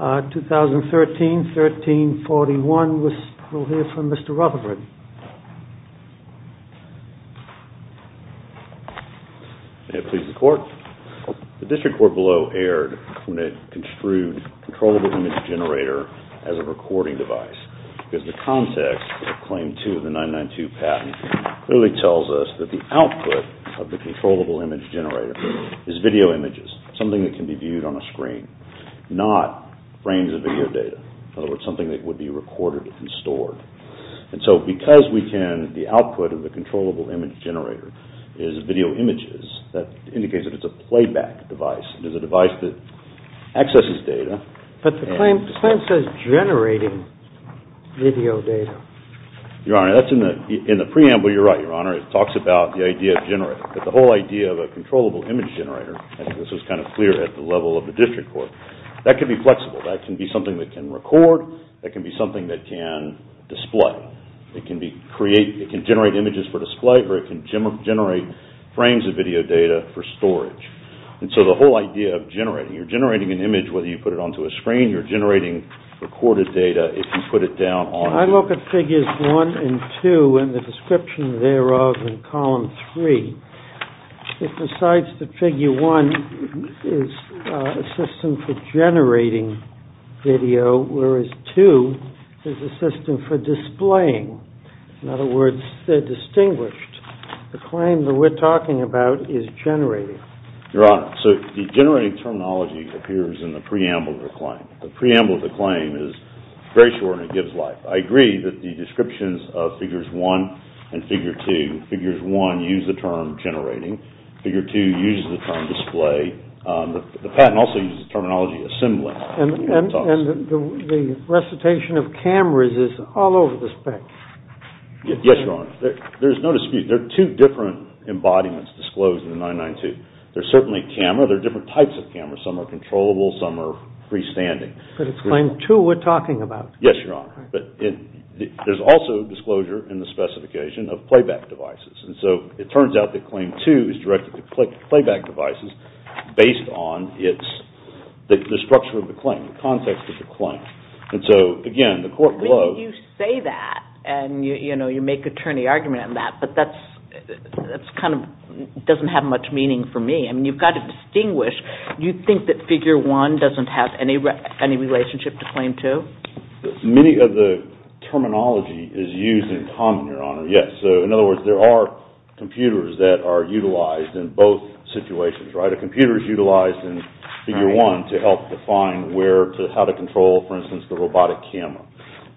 2013-1341. We'll hear from Mr. Rutherford. May it please the Court. The District Court below erred when it construed controllable image generator as a recording device because the context of Claim 2 of the 992 patent clearly tells us that the output of the controllable image generator is video images, something that can be viewed on a screen, not frames of video data. In other words, something that would be recorded and stored. And so because we can, the output of the controllable image generator is video images, that indicates that it's a playback device. It is a device that accesses data. But the claim says generating video data. Your Honor, that's in the preamble. You're right, Your Honor. It talks about the idea of generating. But the whole idea of data at the level of the District Court, that can be flexible. That can be something that can record. That can be something that can display. It can generate images for display or it can generate frames of video data for storage. And so the whole idea of generating, you're generating an image whether you put it onto a screen, you're generating recorded data if you put it down on... I look at Figures 1 and 2 and the description thereof in Column 3. It decides that Figure 1 is a system for generating video, whereas 2 is a system for displaying. In other words, they're distinguished. The claim that we're talking about is generating. Your Honor, so the generating terminology appears in the preamble of the claim. The preamble of the claim is very short and it gives life. I agree that the descriptions of Figures 1 and Figure 2, Figures 1 use the term generating, Figure 2 uses the term display. The patent also uses the terminology assembling. And the recitation of cameras is all over the specs. Yes, Your Honor. There's no dispute. There are two different embodiments disclosed in the 992. There's certainly a camera. There are different types of cameras. Some are controllable, some are freestanding. But it's Claim 2 we're talking about. Yes, Your Honor. But there's also disclosure in the specification of playback devices. And so it turns out that Claim 2 is directed to playback devices based on the structure of the claim, the context of the claim. And so, again, the court blows... You say that and you make attorney argument on that, but that doesn't have much meaning for me. I mean, you've got to distinguish. You think that Figure 1 doesn't have any relationship to Claim 2? Many of the terminology is used in common, Your Honor. Yes. So, in other words, there are computers that are utilized in both situations, right? A computer is utilized in Figure 1 to help define how to control, for instance, the robotic camera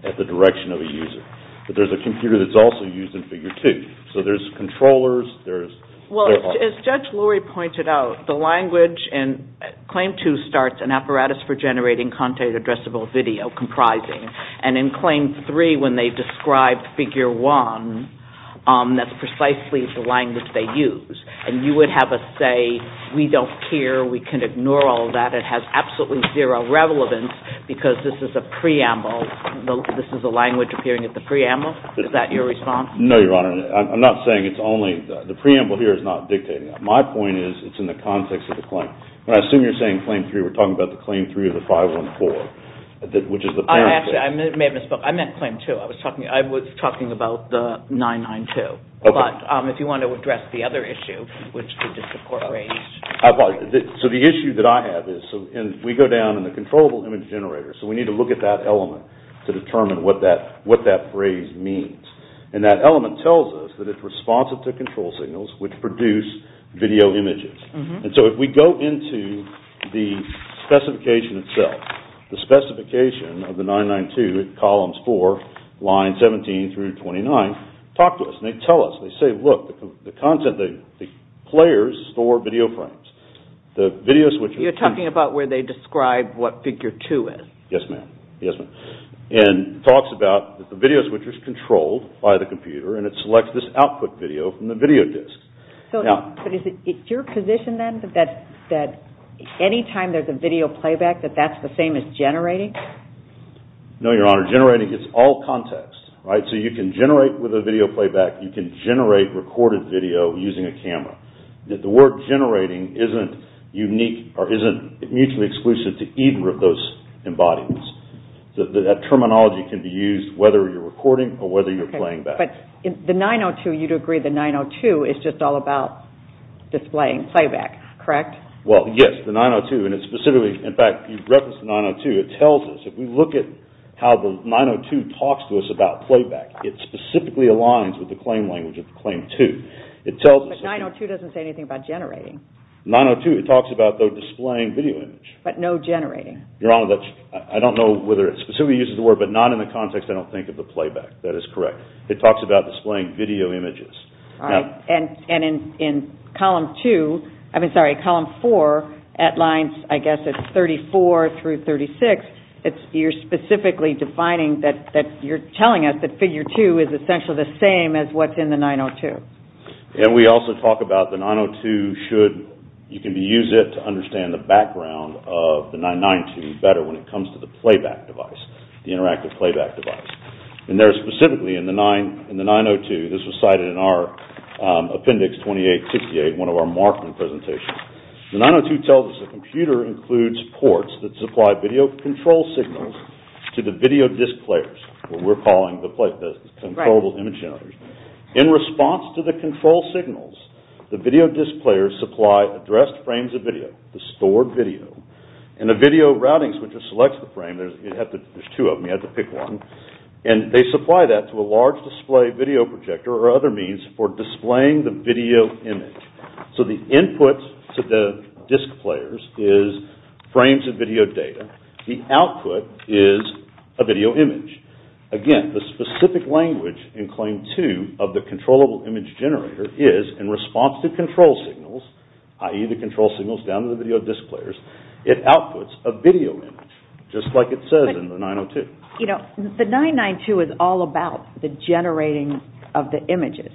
at the direction of a user. But there's a computer that's also used in Figure 2. So there's controllers, there's... Well, as Judge Lurie pointed out, the language in Claim 2 starts, an apparatus for generating contact addressable video comprising. And in Claim 3, when they describe Figure 1, that's precisely the language they use. And you would have us say, we don't care, we can ignore all that. It has absolutely zero relevance because this is a preamble. This is a language appearing at the preamble. Is that your response? No, Your Honor. I'm not saying it's only... The preamble here is not dictating that. My point is, it's in the context of the claim. When I assume you're saying Claim 3, we're talking about the Claim 3 of the 514, which is the parent... Actually, I may have misspoke. I meant Claim 2. I was talking about the 992. Okay. But if you want to address the other issue, which the District Court raised... So the issue that I have is, we go down in the controllable image generator, so we need to look at that element to determine what that phrase means. And that element tells us that it's responsive to control signals, which produce video images. And so if we go into the specification itself, the specification of the 992 in columns 4, lines 17 through 29, talk to us. And they tell us, they say, look, the content, the players store video frames. You're talking about where they describe what Figure 2 is? Yes, ma'am. Yes, ma'am. And it talks about that the video switcher is controlled by the computer and it selects this output video from the video disk. But is it your position, then, that any time there's a video playback, that that's the same as generating? No, Your Honor. Generating is all context, right? So you can generate with a video playback. You can generate recorded video using a camera. The word generating isn't unique or isn't mutually exclusive to either of those embodiments. That terminology can be used whether you're recording or whether you're playing back. But the 902, you'd agree the 902 is just all about displaying playback, correct? Well, yes, the 902. And it specifically, in fact, you referenced the 902. It tells us, if we look at how the 902 talks to us about playback, it specifically aligns with the claim language of the claim 2. But 902 doesn't say anything about generating. 902, it talks about, though, displaying video image. But no generating. Your Honor, I don't know whether it specifically uses the word, but not in the context I don't think of the playback. That is correct. It talks about displaying video images. And in column 2, I mean, sorry, column 4, at lines, I guess it's 34 through 36, you're specifically defining that you're telling us that figure 2 is essentially the same as what's in the 902. And we also talk about the 902 should, you can use it to understand the background of the 992 better when it comes to the playback device, the interactive playback device. And there, specifically in the 902, this was cited in our appendix 2868, one of our marketing presentations. The 902 tells us a computer includes ports that supply video control signals to the video disc players, what we're calling the controllable image generators. In response to the control signals, the video disc players supply addressed frames of video, the stored video, and a video routing switch that selects the frame. There's two of them, you have to pick one. And they supply that to a large display video projector or other means for displaying the video image. So the input to the disc players is frames of video data. The output is a video image. Again, the specific language in claim 2 of the controllable image generator is, in response to control signals, i.e. the control signals down to the video disc players, it outputs a video image, just like it says in the 902. You know, the 992 is all about the generating of the images,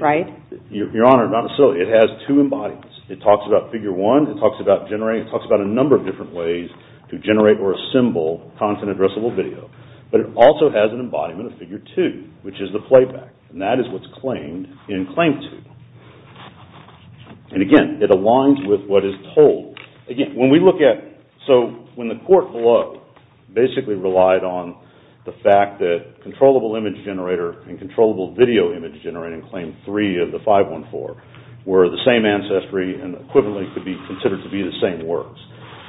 right? Your Honor, not necessarily. It has two embodiments. It talks about figure 1, it talks about generating, it talks about a number of different ways to generate or assemble content addressable video. But it also has an embodiment of figure 2, which is the playback. And that is what's claimed in claim 2. And again, it aligns with what is told. Again, when we look at, so when the court below basically relied on the fact that controllable image generator and controllable video image generator in claim 3 of the 514 were the same ancestry and equivalently could be considered to be the same works.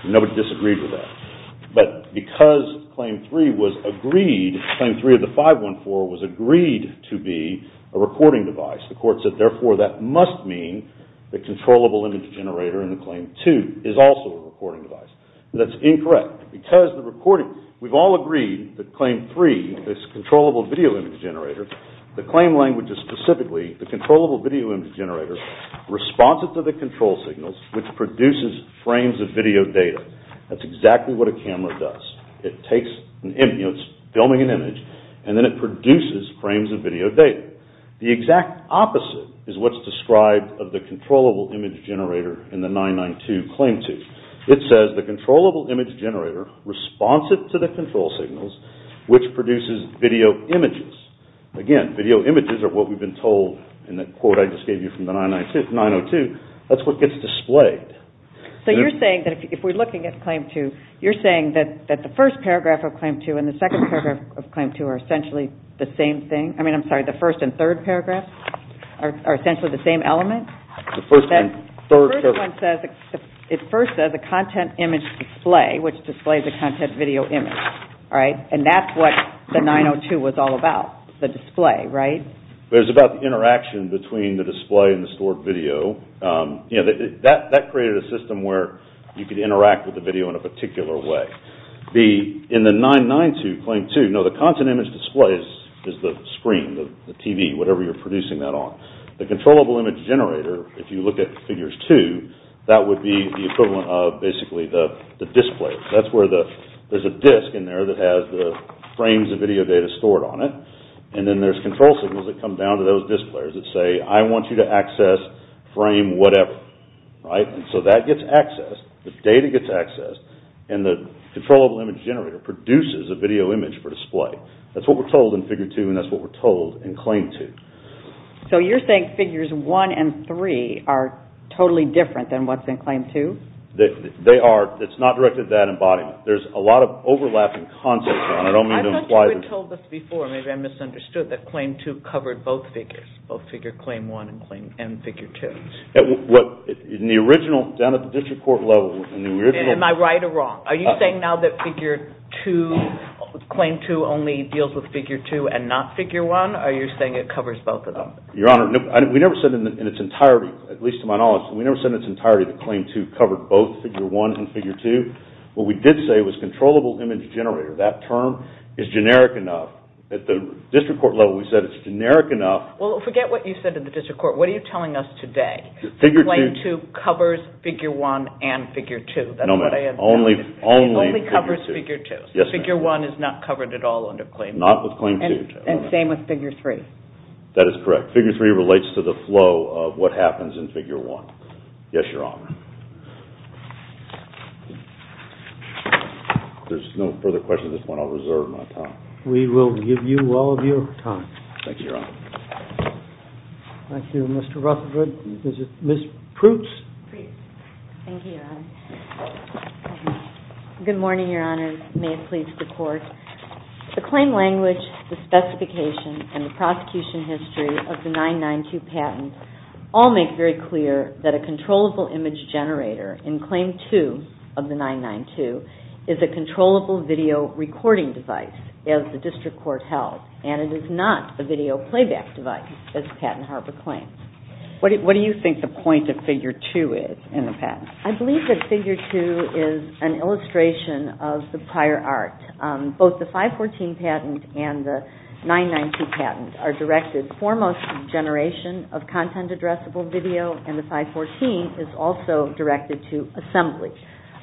Nobody disagreed with that. But because claim 3 was agreed, claim 3 of the 514 was agreed to be a recording device, the court said therefore that must mean the controllable image generator in the claim 2 is also a recording device. That's incorrect. Because the recording, we've all agreed that claim 3, this controllable video image generator, the claim language is specifically the controllable video image generator responses to the control signals, which produces frames of video data. That's exactly what a camera does. It takes, you know, it's filming an image, and then it produces frames of video data. The exact opposite is what's described of the controllable image generator in the 992 claim 2. It says the controllable image generator responses to the control signals, which produces video images. Again, video images are what we've been told in the quote I just gave you from the 902. That's what gets displayed. So you're saying that if we're looking at claim 2, you're saying that the first paragraph of claim 2 and the second paragraph of claim 2 are essentially the same thing? I mean, I'm sorry, the first and third paragraphs are essentially the same element? The first and third paragraphs. The first one says, it first says a content image display, which displays a content video image, right? And that's what the 902 was all about, the display, right? It was about the interaction between the display and the stored video. You know, that created a system where you could interact with the video in a particular way. In the 992 claim 2, no, the content image display is the screen, the TV, whatever you're producing that on. The controllable image generator, if you look at figures 2, that would be the equivalent of basically the display. That's where there's a disc in there that has the frames of video data stored on it, and then there's control signals that come down to those disc players that say, I want you to access frame whatever, right? So that gets accessed, the data gets accessed, and the controllable image generator produces a video image for display. That's what we're told in figure 2, and that's what we're told in claim 2. So you're saying figures 1 and 3 are totally different than what's in claim 2? They are. It's not directed at that embodiment. There's a lot of overlapping concepts on it. I don't think you had told us before, maybe I misunderstood, that claim 2 covered both figures, both figure claim 1 and figure 2. What, in the original, down at the district court level, in the original Am I right or wrong? Are you saying now that figure 2, claim 2 only deals with figure 2 and not figure 1? Are you saying it covers both of them? Your Honor, we never said in its entirety, at least to my knowledge, we never said in its entirety that claim 2 covered both figure 1 and figure 2. What we did say was controllable image generator. That term is generic enough. At the district court level, we said it's generic enough. Well, forget what you said at the district court. What are you telling us today? Claim 2 covers figure 1 and figure 2. No, ma'am, only figure 2. It only covers figure 2. Yes, ma'am. Figure 1 is not covered at all under claim 2. Not with claim 2. And same with figure 3. That is correct. Figure 3 relates to the flow of what happens in figure 1. Yes, Your Honor. There's no further questions at this point. I'll reserve my time. We will give you all of your time. Thank you, Your Honor. Thank you, Mr. Rutherford. Ms. Proots. Thank you, Your Honor. Good morning, Your Honor. May it please the Court. The claim language, the specification, and the prosecution history of the 992 patent all make very clear that a controllable image generator in claim 2 of the 992 is a controllable video recording device, as the district court held, and it is not a video playback device, as Patent Harbor claims. What do you think the point of figure 2 is in the patent? I believe that figure 2 is an illustration of the prior art. Both the 514 patent and the 992 patent are directed, foremost, to generation of content-addressable video, and the 514 is also directed to assembly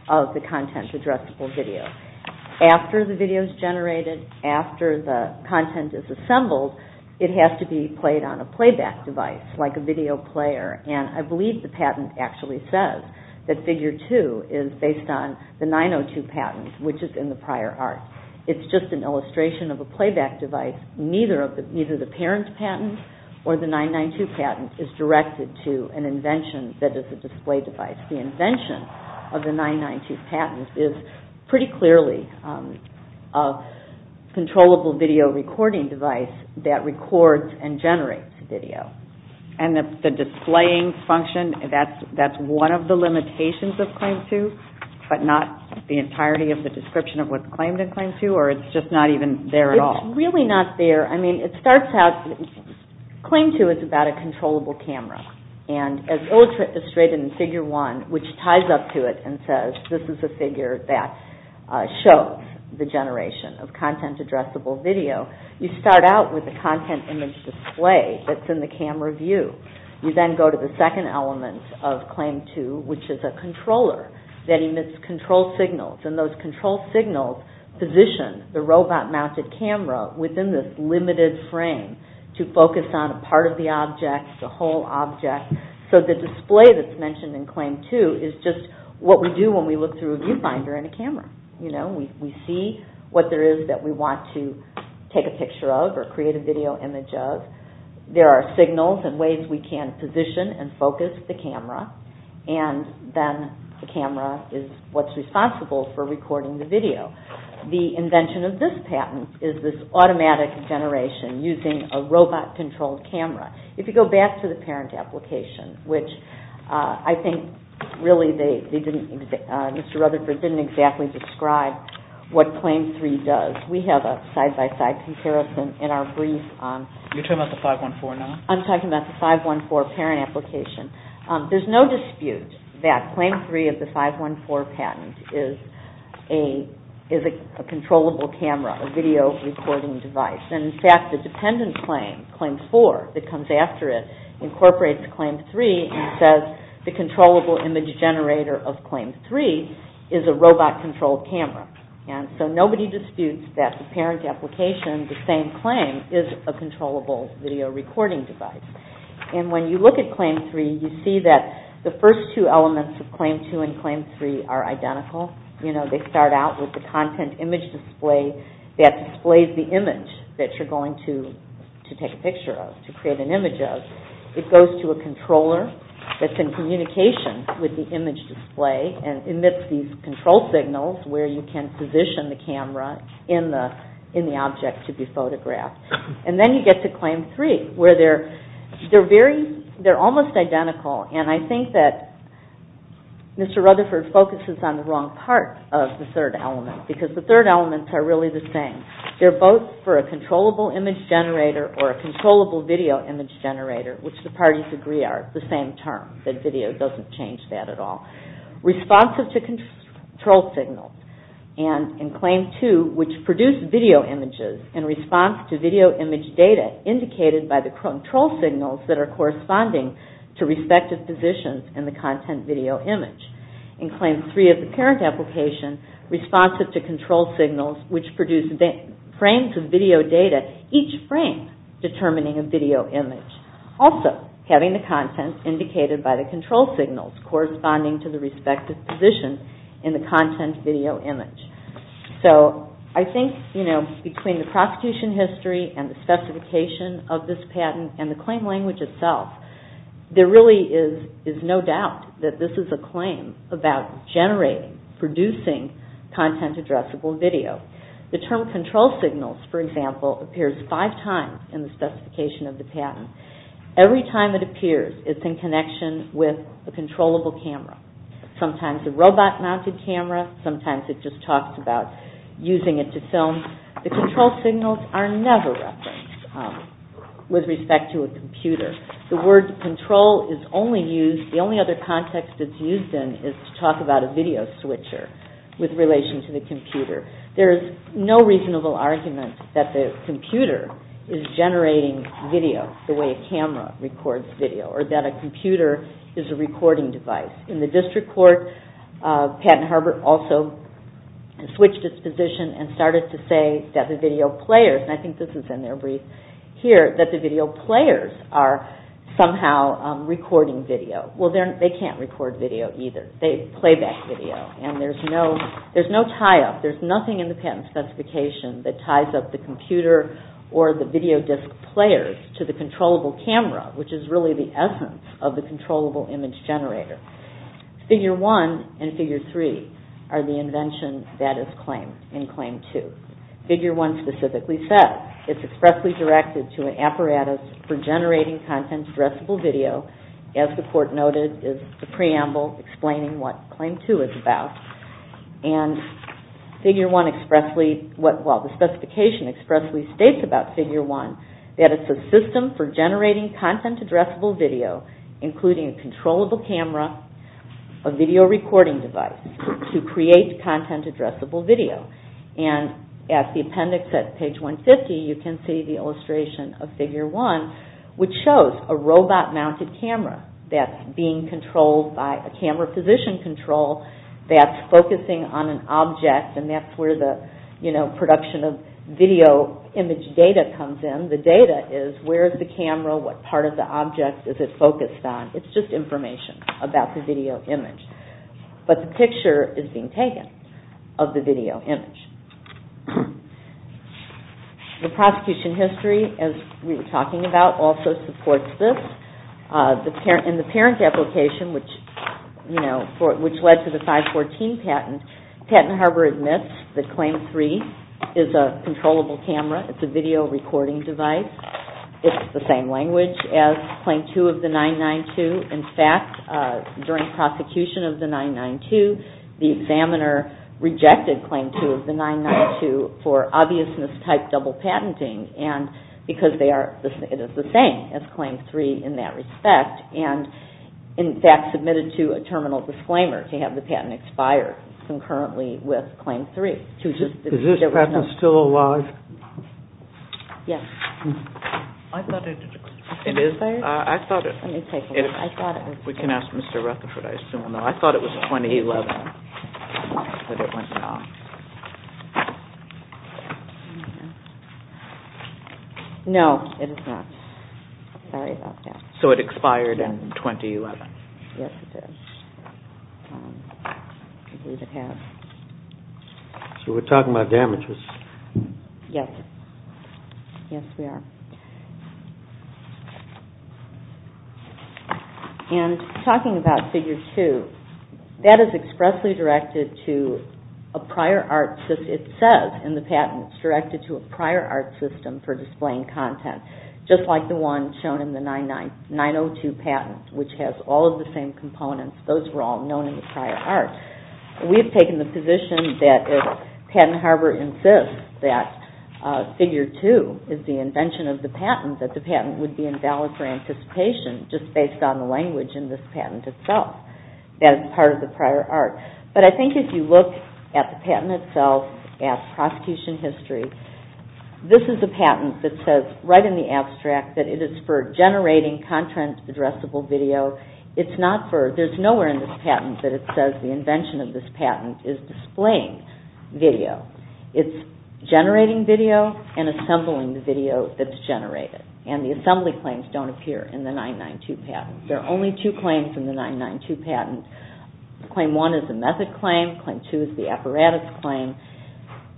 of the content-addressable video. After the video is generated, after the content is assembled, it has to be played on a playback device, like a video player, and I believe the patent actually says that figure 2 is based on the 902 patent, which is in the prior art. It's just an illustration of a playback device. Neither the parent patent or the 992 patent is directed to an invention that is a display device. The invention of the 992 patent is pretty clearly a controllable video recording device that records and generates video. And the displaying function, that's one of the limitations of claim 2, but not the entirety of the description of what's claimed in claim 2, or it's just not even there at all? It's really not there. I mean, it starts out, claim 2 is about a controllable camera, and as illustrated in figure 1, which ties up to it and says, this is a figure that shows the generation of content-addressable video, you start out with a content image display that's in the camera view. You then go to the second element of claim 2, which is a controller that emits control signals, and those control signals position the robot-mounted camera within this limited frame to focus on a part of the object, a whole object. So the display that's mentioned in claim 2 is just what we do when we look through a viewfinder in a camera. We see what there is that we want to take a picture of or create a video image of. There are signals and ways we can position and focus the camera, and then the camera is what's responsible for recording the video. The invention of this patent is this automatic generation using a robot-controlled camera. If you go back to the parent application, which I think really Mr. Rutherford didn't exactly describe what claim 3 does, we have a side-by-side comparison in our brief. You're talking about the 514 now? I'm talking about the 514 parent application. There's no dispute that claim 3 of the 514 patent is a controllable camera, a video recording device. In fact, the dependent claim, claim 4 that comes after it, incorporates claim 3 and says the controllable image generator of claim 3 is a robot-controlled camera. So nobody disputes that the parent application, the same claim, is a controllable video recording device. When you look at claim 3, you see that the first two elements of claim 2 and claim 3 are identical. They start out with the content image display that displays the image that you're going to take a picture of, to create an image of. It goes to a controller that's in communication with the image display and emits these control signals where you can position the camera in the object to be photographed. Then you get to claim 3 where they're almost identical. I think that Mr. Rutherford focuses on the wrong part of the third element because the third elements are really the same. They're both for a controllable image generator or a controllable video image generator, which the parties agree are the same term, that video doesn't change that at all. Responsive to control signals, and in claim 2, which produce video images in response to video image data indicated by the control signals that are corresponding to respective positions in the content video image. In claim 3 of the parent application, responsive to control signals which produce frames of video data, each frame determining a video image. Also having the content indicated by the control signals corresponding to the respective position in the content video image. I think between the prosecution history and the specification of this patent and the claim language itself, there really is no doubt that this is a claim about generating, producing content addressable video. The term control signals, for example, appears five times in the specification of the patent. Every time it appears, it's in connection with a controllable camera. Sometimes a robot mounted camera, sometimes it just talks about using it to film. The control signals are never referenced with respect to a computer. The word control is only used, the only other context it's used in is to talk about a video switcher with relation to the computer. There is no reasonable argument that the computer is generating video the way a camera records video or that a computer is a recording device. In the district court, Patent Harbor also switched its position and started to say that the video players, and I think this is in their brief here, that the video players are somehow recording video. Well, they can't record video either. They play back video and there's no tie-up. There's nothing in the patent specification that ties up the computer or the video disc players to the controllable camera, which is really the essence of the controllable image generator. Figure 1 and Figure 3 are the inventions that is claimed in Claim 2. Figure 1 specifically says, it's expressly directed to an apparatus for generating content-addressable video. As the court noted, it's the preamble explaining what Claim 2 is about. And the specification expressly states about Figure 1 that it's a system for generating content-addressable video, including a controllable camera, a video recording device, to create content-addressable video. And at the appendix at page 150, you can see the illustration of Figure 1, which shows a robot-mounted camera that's being controlled by a camera position control that's focusing on an object, and that's where the production of video image data comes in. The data is where is the camera, what part of the object is it focused on. It's just information about the video image. But the picture is being taken of the video image. The prosecution history, as we were talking about, also supports this. In the parent application, which led to the 514 patent, Patent Harbor admits that Claim 3 is a controllable camera. It's a video recording device. It's the same language as Claim 2 of the 992. In fact, during prosecution of the 992, the examiner rejected Claim 2 of the 992 for obviousness-type double patenting, because it is the same as Claim 3 in that respect, and in fact submitted to a terminal disclaimer to have the patent expire concurrently with Claim 3. Is this patent still alive? Yes. I thought it expired. Let me take a look. We can ask Mr. Rutherford, I assume. I thought it was 2011 that it went off. No, it is not. Sorry about that. So it expired in 2011. Yes, it did. I believe it has. So we're talking about damages. Yes, we are. And talking about Figure 2, that is expressly directed to a prior art system. It says in the patent it's directed to a prior art system for displaying content, just like the one shown in the 902 patent, which has all of the same components. Those were all known in the prior art. We have taken the position that if Patent Harbor insists that Figure 2 is the invention of the patent, that the patent would be invalid for anticipation just based on the language in this patent itself. That is part of the prior art. But I think if you look at the patent itself, at prosecution history, this is a patent that says right in the abstract that it is for generating content addressable video. There's nowhere in this patent that it says the invention of this patent is displaying video. It's generating video and assembling the video that's generated. And the assembly claims don't appear in the 992 patent. There are only two claims in the 992 patent. Claim 1 is the method claim. Claim 2 is the apparatus claim.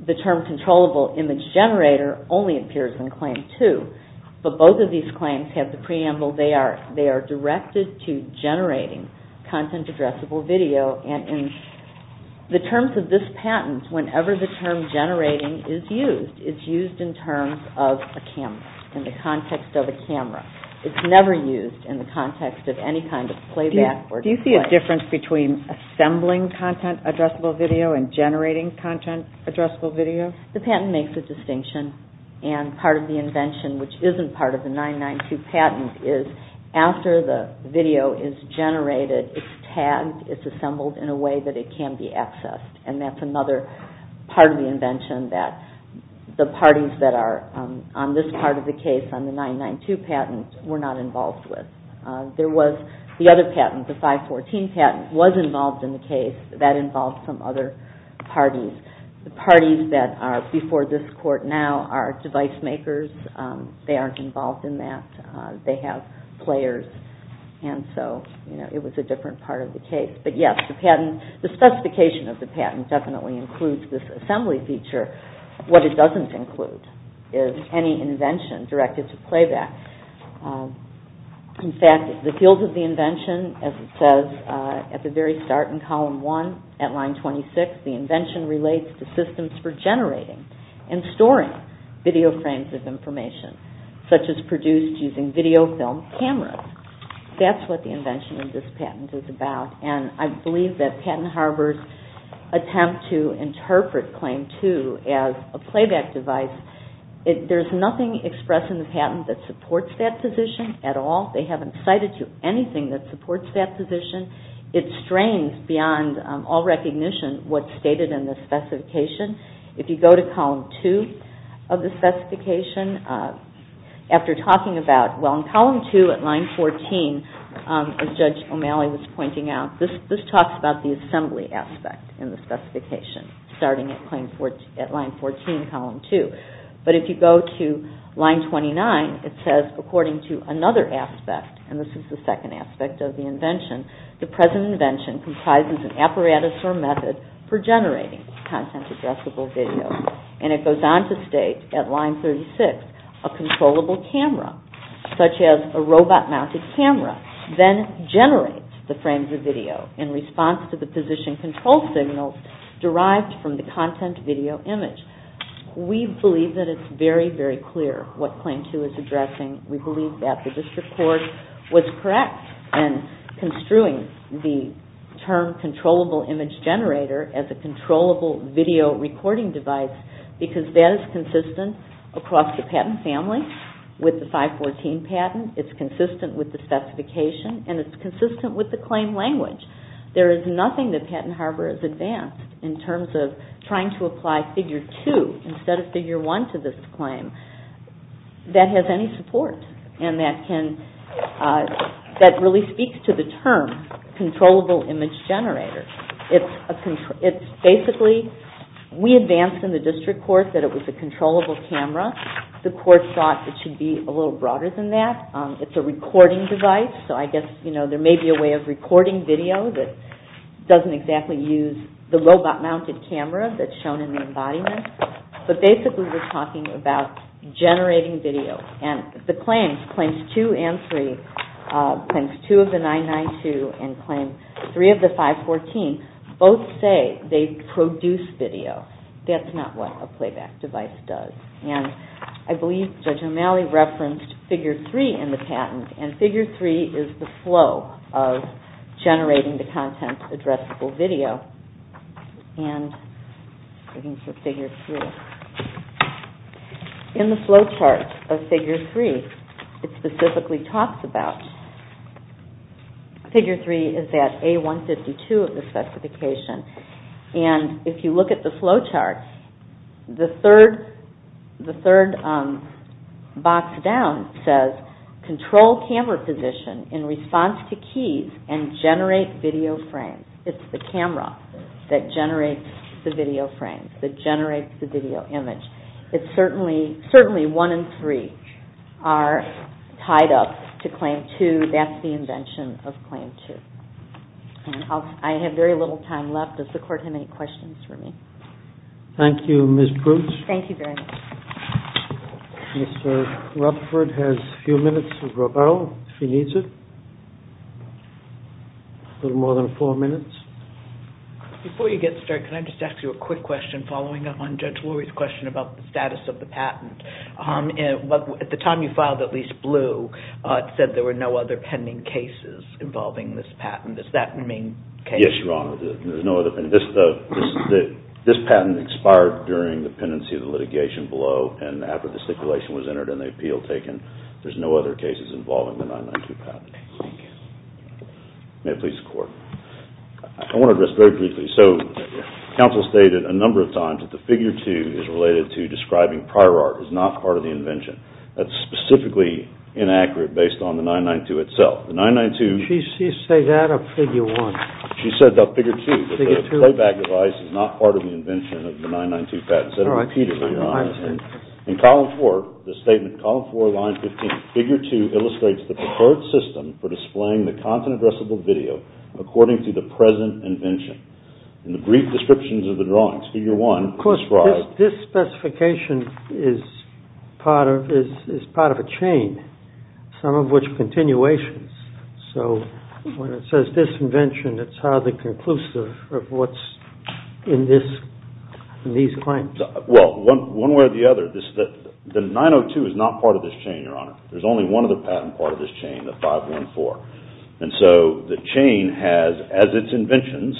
The term controllable image generator only appears in Claim 2. But both of these claims have the preamble they are directed to generating content addressable video. And in the terms of this patent, whenever the term generating is used, it's used in terms of a camera, in the context of a camera. It's never used in the context of any kind of playback. Do you see a difference between assembling content addressable video and generating content addressable video? The patent makes a distinction. And part of the invention, which isn't part of the 992 patent, is after the video is generated, it's tagged, it's assembled in a way that it can be accessed. And that's another part of the invention that the parties that are on this part of the case on the 992 patent were not involved with. There was the other patent, the 514 patent, was involved in the case. That involved some other parties. The parties that are before this court now are device makers. They aren't involved in that. They have players. And so it was a different part of the case. But yes, the patent, the specification of the patent definitely includes this assembly feature. What it doesn't include is any invention directed to playback. In fact, the field of the invention, as it says at the very start in column one at line 26, the invention relates to systems for generating and storing video frames of information such as produced using video film cameras. That's what the invention of this patent is about. And I believe that Patton Harbors' attempt to interpret Claim 2 as a playback device, there's nothing expressed in the patent that supports that position at all. They haven't cited anything that supports that position. It strains beyond all recognition what's stated in the specification. If you go to column two of the specification, after talking about, well, in column two at line 14, as Judge O'Malley was pointing out, this talks about the assembly aspect in the specification starting at line 14, column two. But if you go to line 29, it says, according to another aspect, and this is the second aspect of the invention, the present invention comprises an apparatus or method for generating content-addressable video. And it goes on to state at line 36, a controllable camera, such as a robot-mounted camera, then generates the frames of video in response to the position control signals derived from the content video image. We believe that it's very, very clear what Claim 2 is addressing. We believe that the district court was correct in construing the term controllable image generator as a controllable video recording device because that is consistent across the patent family with the 514 patent, it's consistent with the specification, and it's consistent with the claim language. There is nothing that Patent Harbor has advanced in terms of trying to apply Figure 2 instead of Figure 1 to this claim that has any support and that can, that really speaks to the term controllable image generator. It's basically, we advanced in the district court that it was a controllable camera. The court thought it should be a little broader than that. It's a recording device, so I guess, you know, there may be a way of recording video that doesn't exactly use the robot-mounted camera that's shown in the embodiment, but basically we're talking about generating video. And the claims, Claims 2 and 3, Claims 2 of the 992 and Claim 3 of the 514, both say they produce video. That's not what a playback device does. And I believe Judge O'Malley referenced Figure 3 in the patent, and Figure 3 is the flow of generating the content addressable video. And, looking for Figure 3. In the flowchart of Figure 3, it specifically talks about, Figure 3 is that A152 of the specification, and if you look at the flowchart, the third, the third box down says, control camera position in response to keys and generate video frames. It's the camera that generates the video frames, that generates the video image. It's certainly, certainly 1 and 3 are tied up to Claim 2. That's the invention of Claim 2. I have very little time left. Does the court have any questions for me? Thank you, Ms. Bruch. Thank you very much. Mr. Rutherford has a few minutes to go, if he needs it. A little more than four minutes. Before you get started, can I just ask you a quick question, following up on Judge Lurie's question about the status of the patent. At the time you filed at least blue, it said there were no other pending cases involving this patent. Does that mean case? Yes, Your Honor. There's no other pending. This patent expired during the pendency of the litigation below, and after the stipulation was entered and the appeal taken, there's no other cases involving the 992 patent. Thank you. May it please the court. I want to address very briefly. Counsel stated a number of times that the figure 2 is related to describing prior art is not part of the invention. That's specifically inaccurate based on the 992 itself. The 992... Did she say that or figure 1? She said figure 2. Figure 2. The playback device is not part of the invention of the 992 patent. All right. In column 4, the statement, column 4, line 15, figure 2 illustrates the preferred system for displaying the content-addressable video according to the present invention. In the brief descriptions of the drawings, figure 1 describes... Of course, this specification is part of a chain, some of which continuations. So when it says disinvention, it's hardly conclusive of what's in these claims. Well, one way or the other, the 902 is not part of this chain, Your Honor. There's only one other patent part of this chain, the 514. And so the chain has, as its inventions,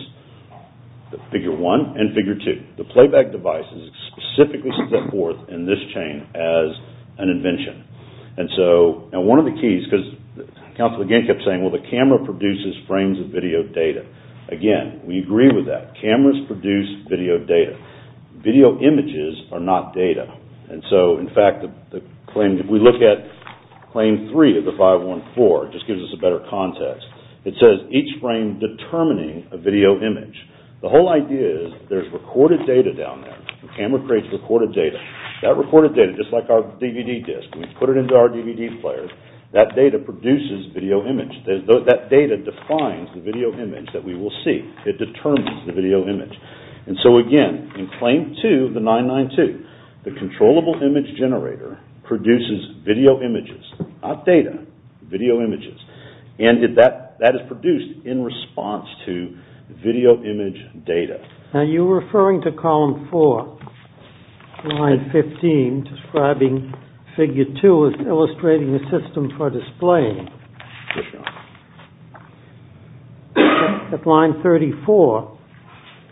figure 1 and figure 2. The playback device is specifically set forth in this chain as an invention. And so... Now, one of the keys, because counsel again kept saying, well, the camera produces frames of video data. Again, we agree with that. Cameras produce video data. Video images are not data. And so, in fact, the claim... If we look at claim 3 of the 514, it just gives us a better context. It says each frame determining a video image. The whole idea is there's recorded data down there. The camera creates recorded data. That recorded data, just like our DVD disc, we put it into our DVD player, that data produces video image. That data defines the video image that we will see. It determines the video image. And so, again, in claim 2 of the 992, the controllable image generator produces video images, not data, video images. And that is produced in response to video image data. Now, you were referring to column 4, line 15, describing figure 2 as illustrating a system for displaying. Yes, Your Honor. At line 34,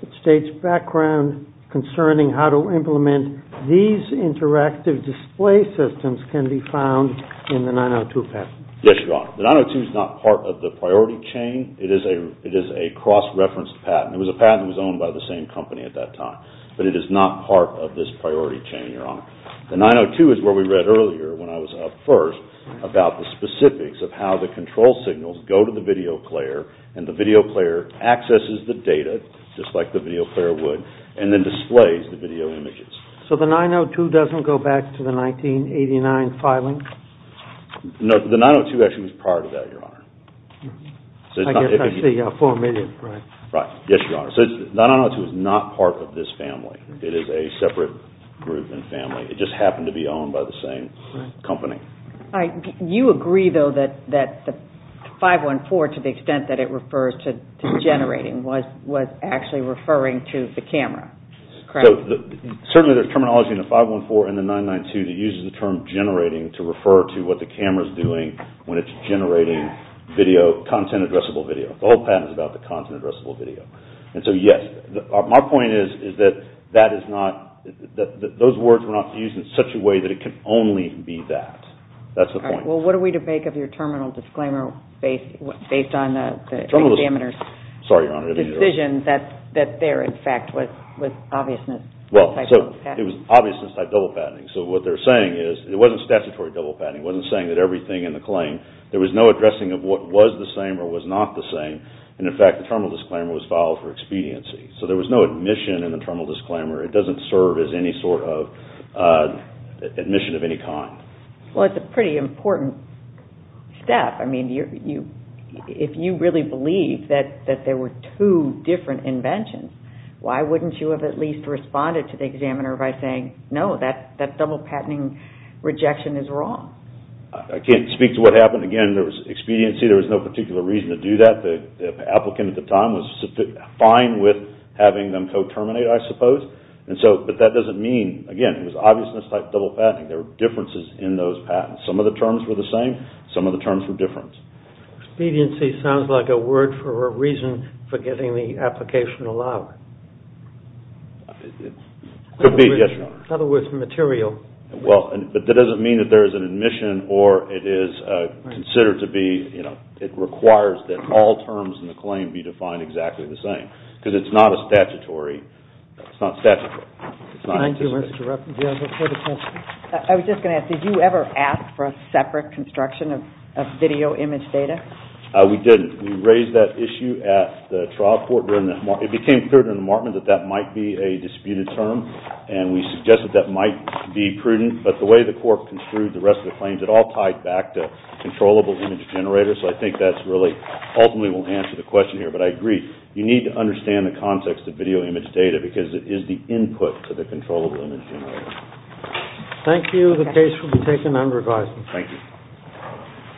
it states background concerning how to implement these interactive display systems can be found in the 902 passage. Yes, Your Honor. The 902 is not part of the priority chain. It is a cross-referenced patent. It was a patent that was owned by the same company at that time. But it is not part of this priority chain, Your Honor. The 902 is where we read earlier, when I was up first, about the specifics of how the control signals go to the video player, and the video player accesses the data, just like the video player would, and then displays the video images. So the 902 doesn't go back to the 1989 filing? No, the 902 actually was prior to that, Your Honor. I guess I see 4 million, right? Right. Yes, Your Honor. So the 902 is not part of this family. It is a separate group and family. It just happened to be owned by the same company. You agree, though, that the 514, to the extent that it refers to generating, was actually referring to the camera, correct? Certainly there is terminology in the 514 and the 992 that uses the term generating to refer to what the camera is doing when it is generating content-addressable video. The whole patent is about the content-addressable video. And so, yes, my point is that those words were not used in such a way that it can only be that. That is the point. Well, what are we to make of your terminal disclaimer based on the examiner's decision that there, in fact, was obviousness? Well, it was obviousness-type double patenting. So what they're saying is it wasn't statutory double patenting. It wasn't saying that everything in the claim- there was no addressing of what was the same or was not the same. And, in fact, the terminal disclaimer was filed for expediency. So there was no admission in the terminal disclaimer. It doesn't serve as any sort of admission of any kind. Well, it's a pretty important step. I mean, if you really believe that there were two different inventions, why wouldn't you have at least responded to the examiner by saying, no, that double patenting rejection is wrong? I can't speak to what happened. Again, there was expediency. There was no particular reason to do that. The applicant at the time was fine with having them co-terminate, I suppose. But that doesn't mean- again, it was obviousness-type double patenting. There were differences in those patents. Some of the terms were the same. Some of the terms were different. Expediency sounds like a word for a reason for getting the application allowed. It could be, yes, Your Honor. In other words, material. Well, but that doesn't mean that there is an admission or it is considered to be- it requires that all terms in the claim be defined exactly the same. Because it's not a statutory- it's not statutory. It's not anticipated. I was just going to ask, did you ever ask for a separate construction of video image data? We didn't. We raised that issue at the trial court. It became clear to the department that that might be a disputed term. And we suggested that might be prudent. But the way the court construed the rest of the claims, it all tied back to controllable image generators. So I think that's really- ultimately won't answer the question here. But I agree. You need to understand the context of video image data because it is the input to the controllable image generator. Thank you. The case will be taken under advisement. Thank you.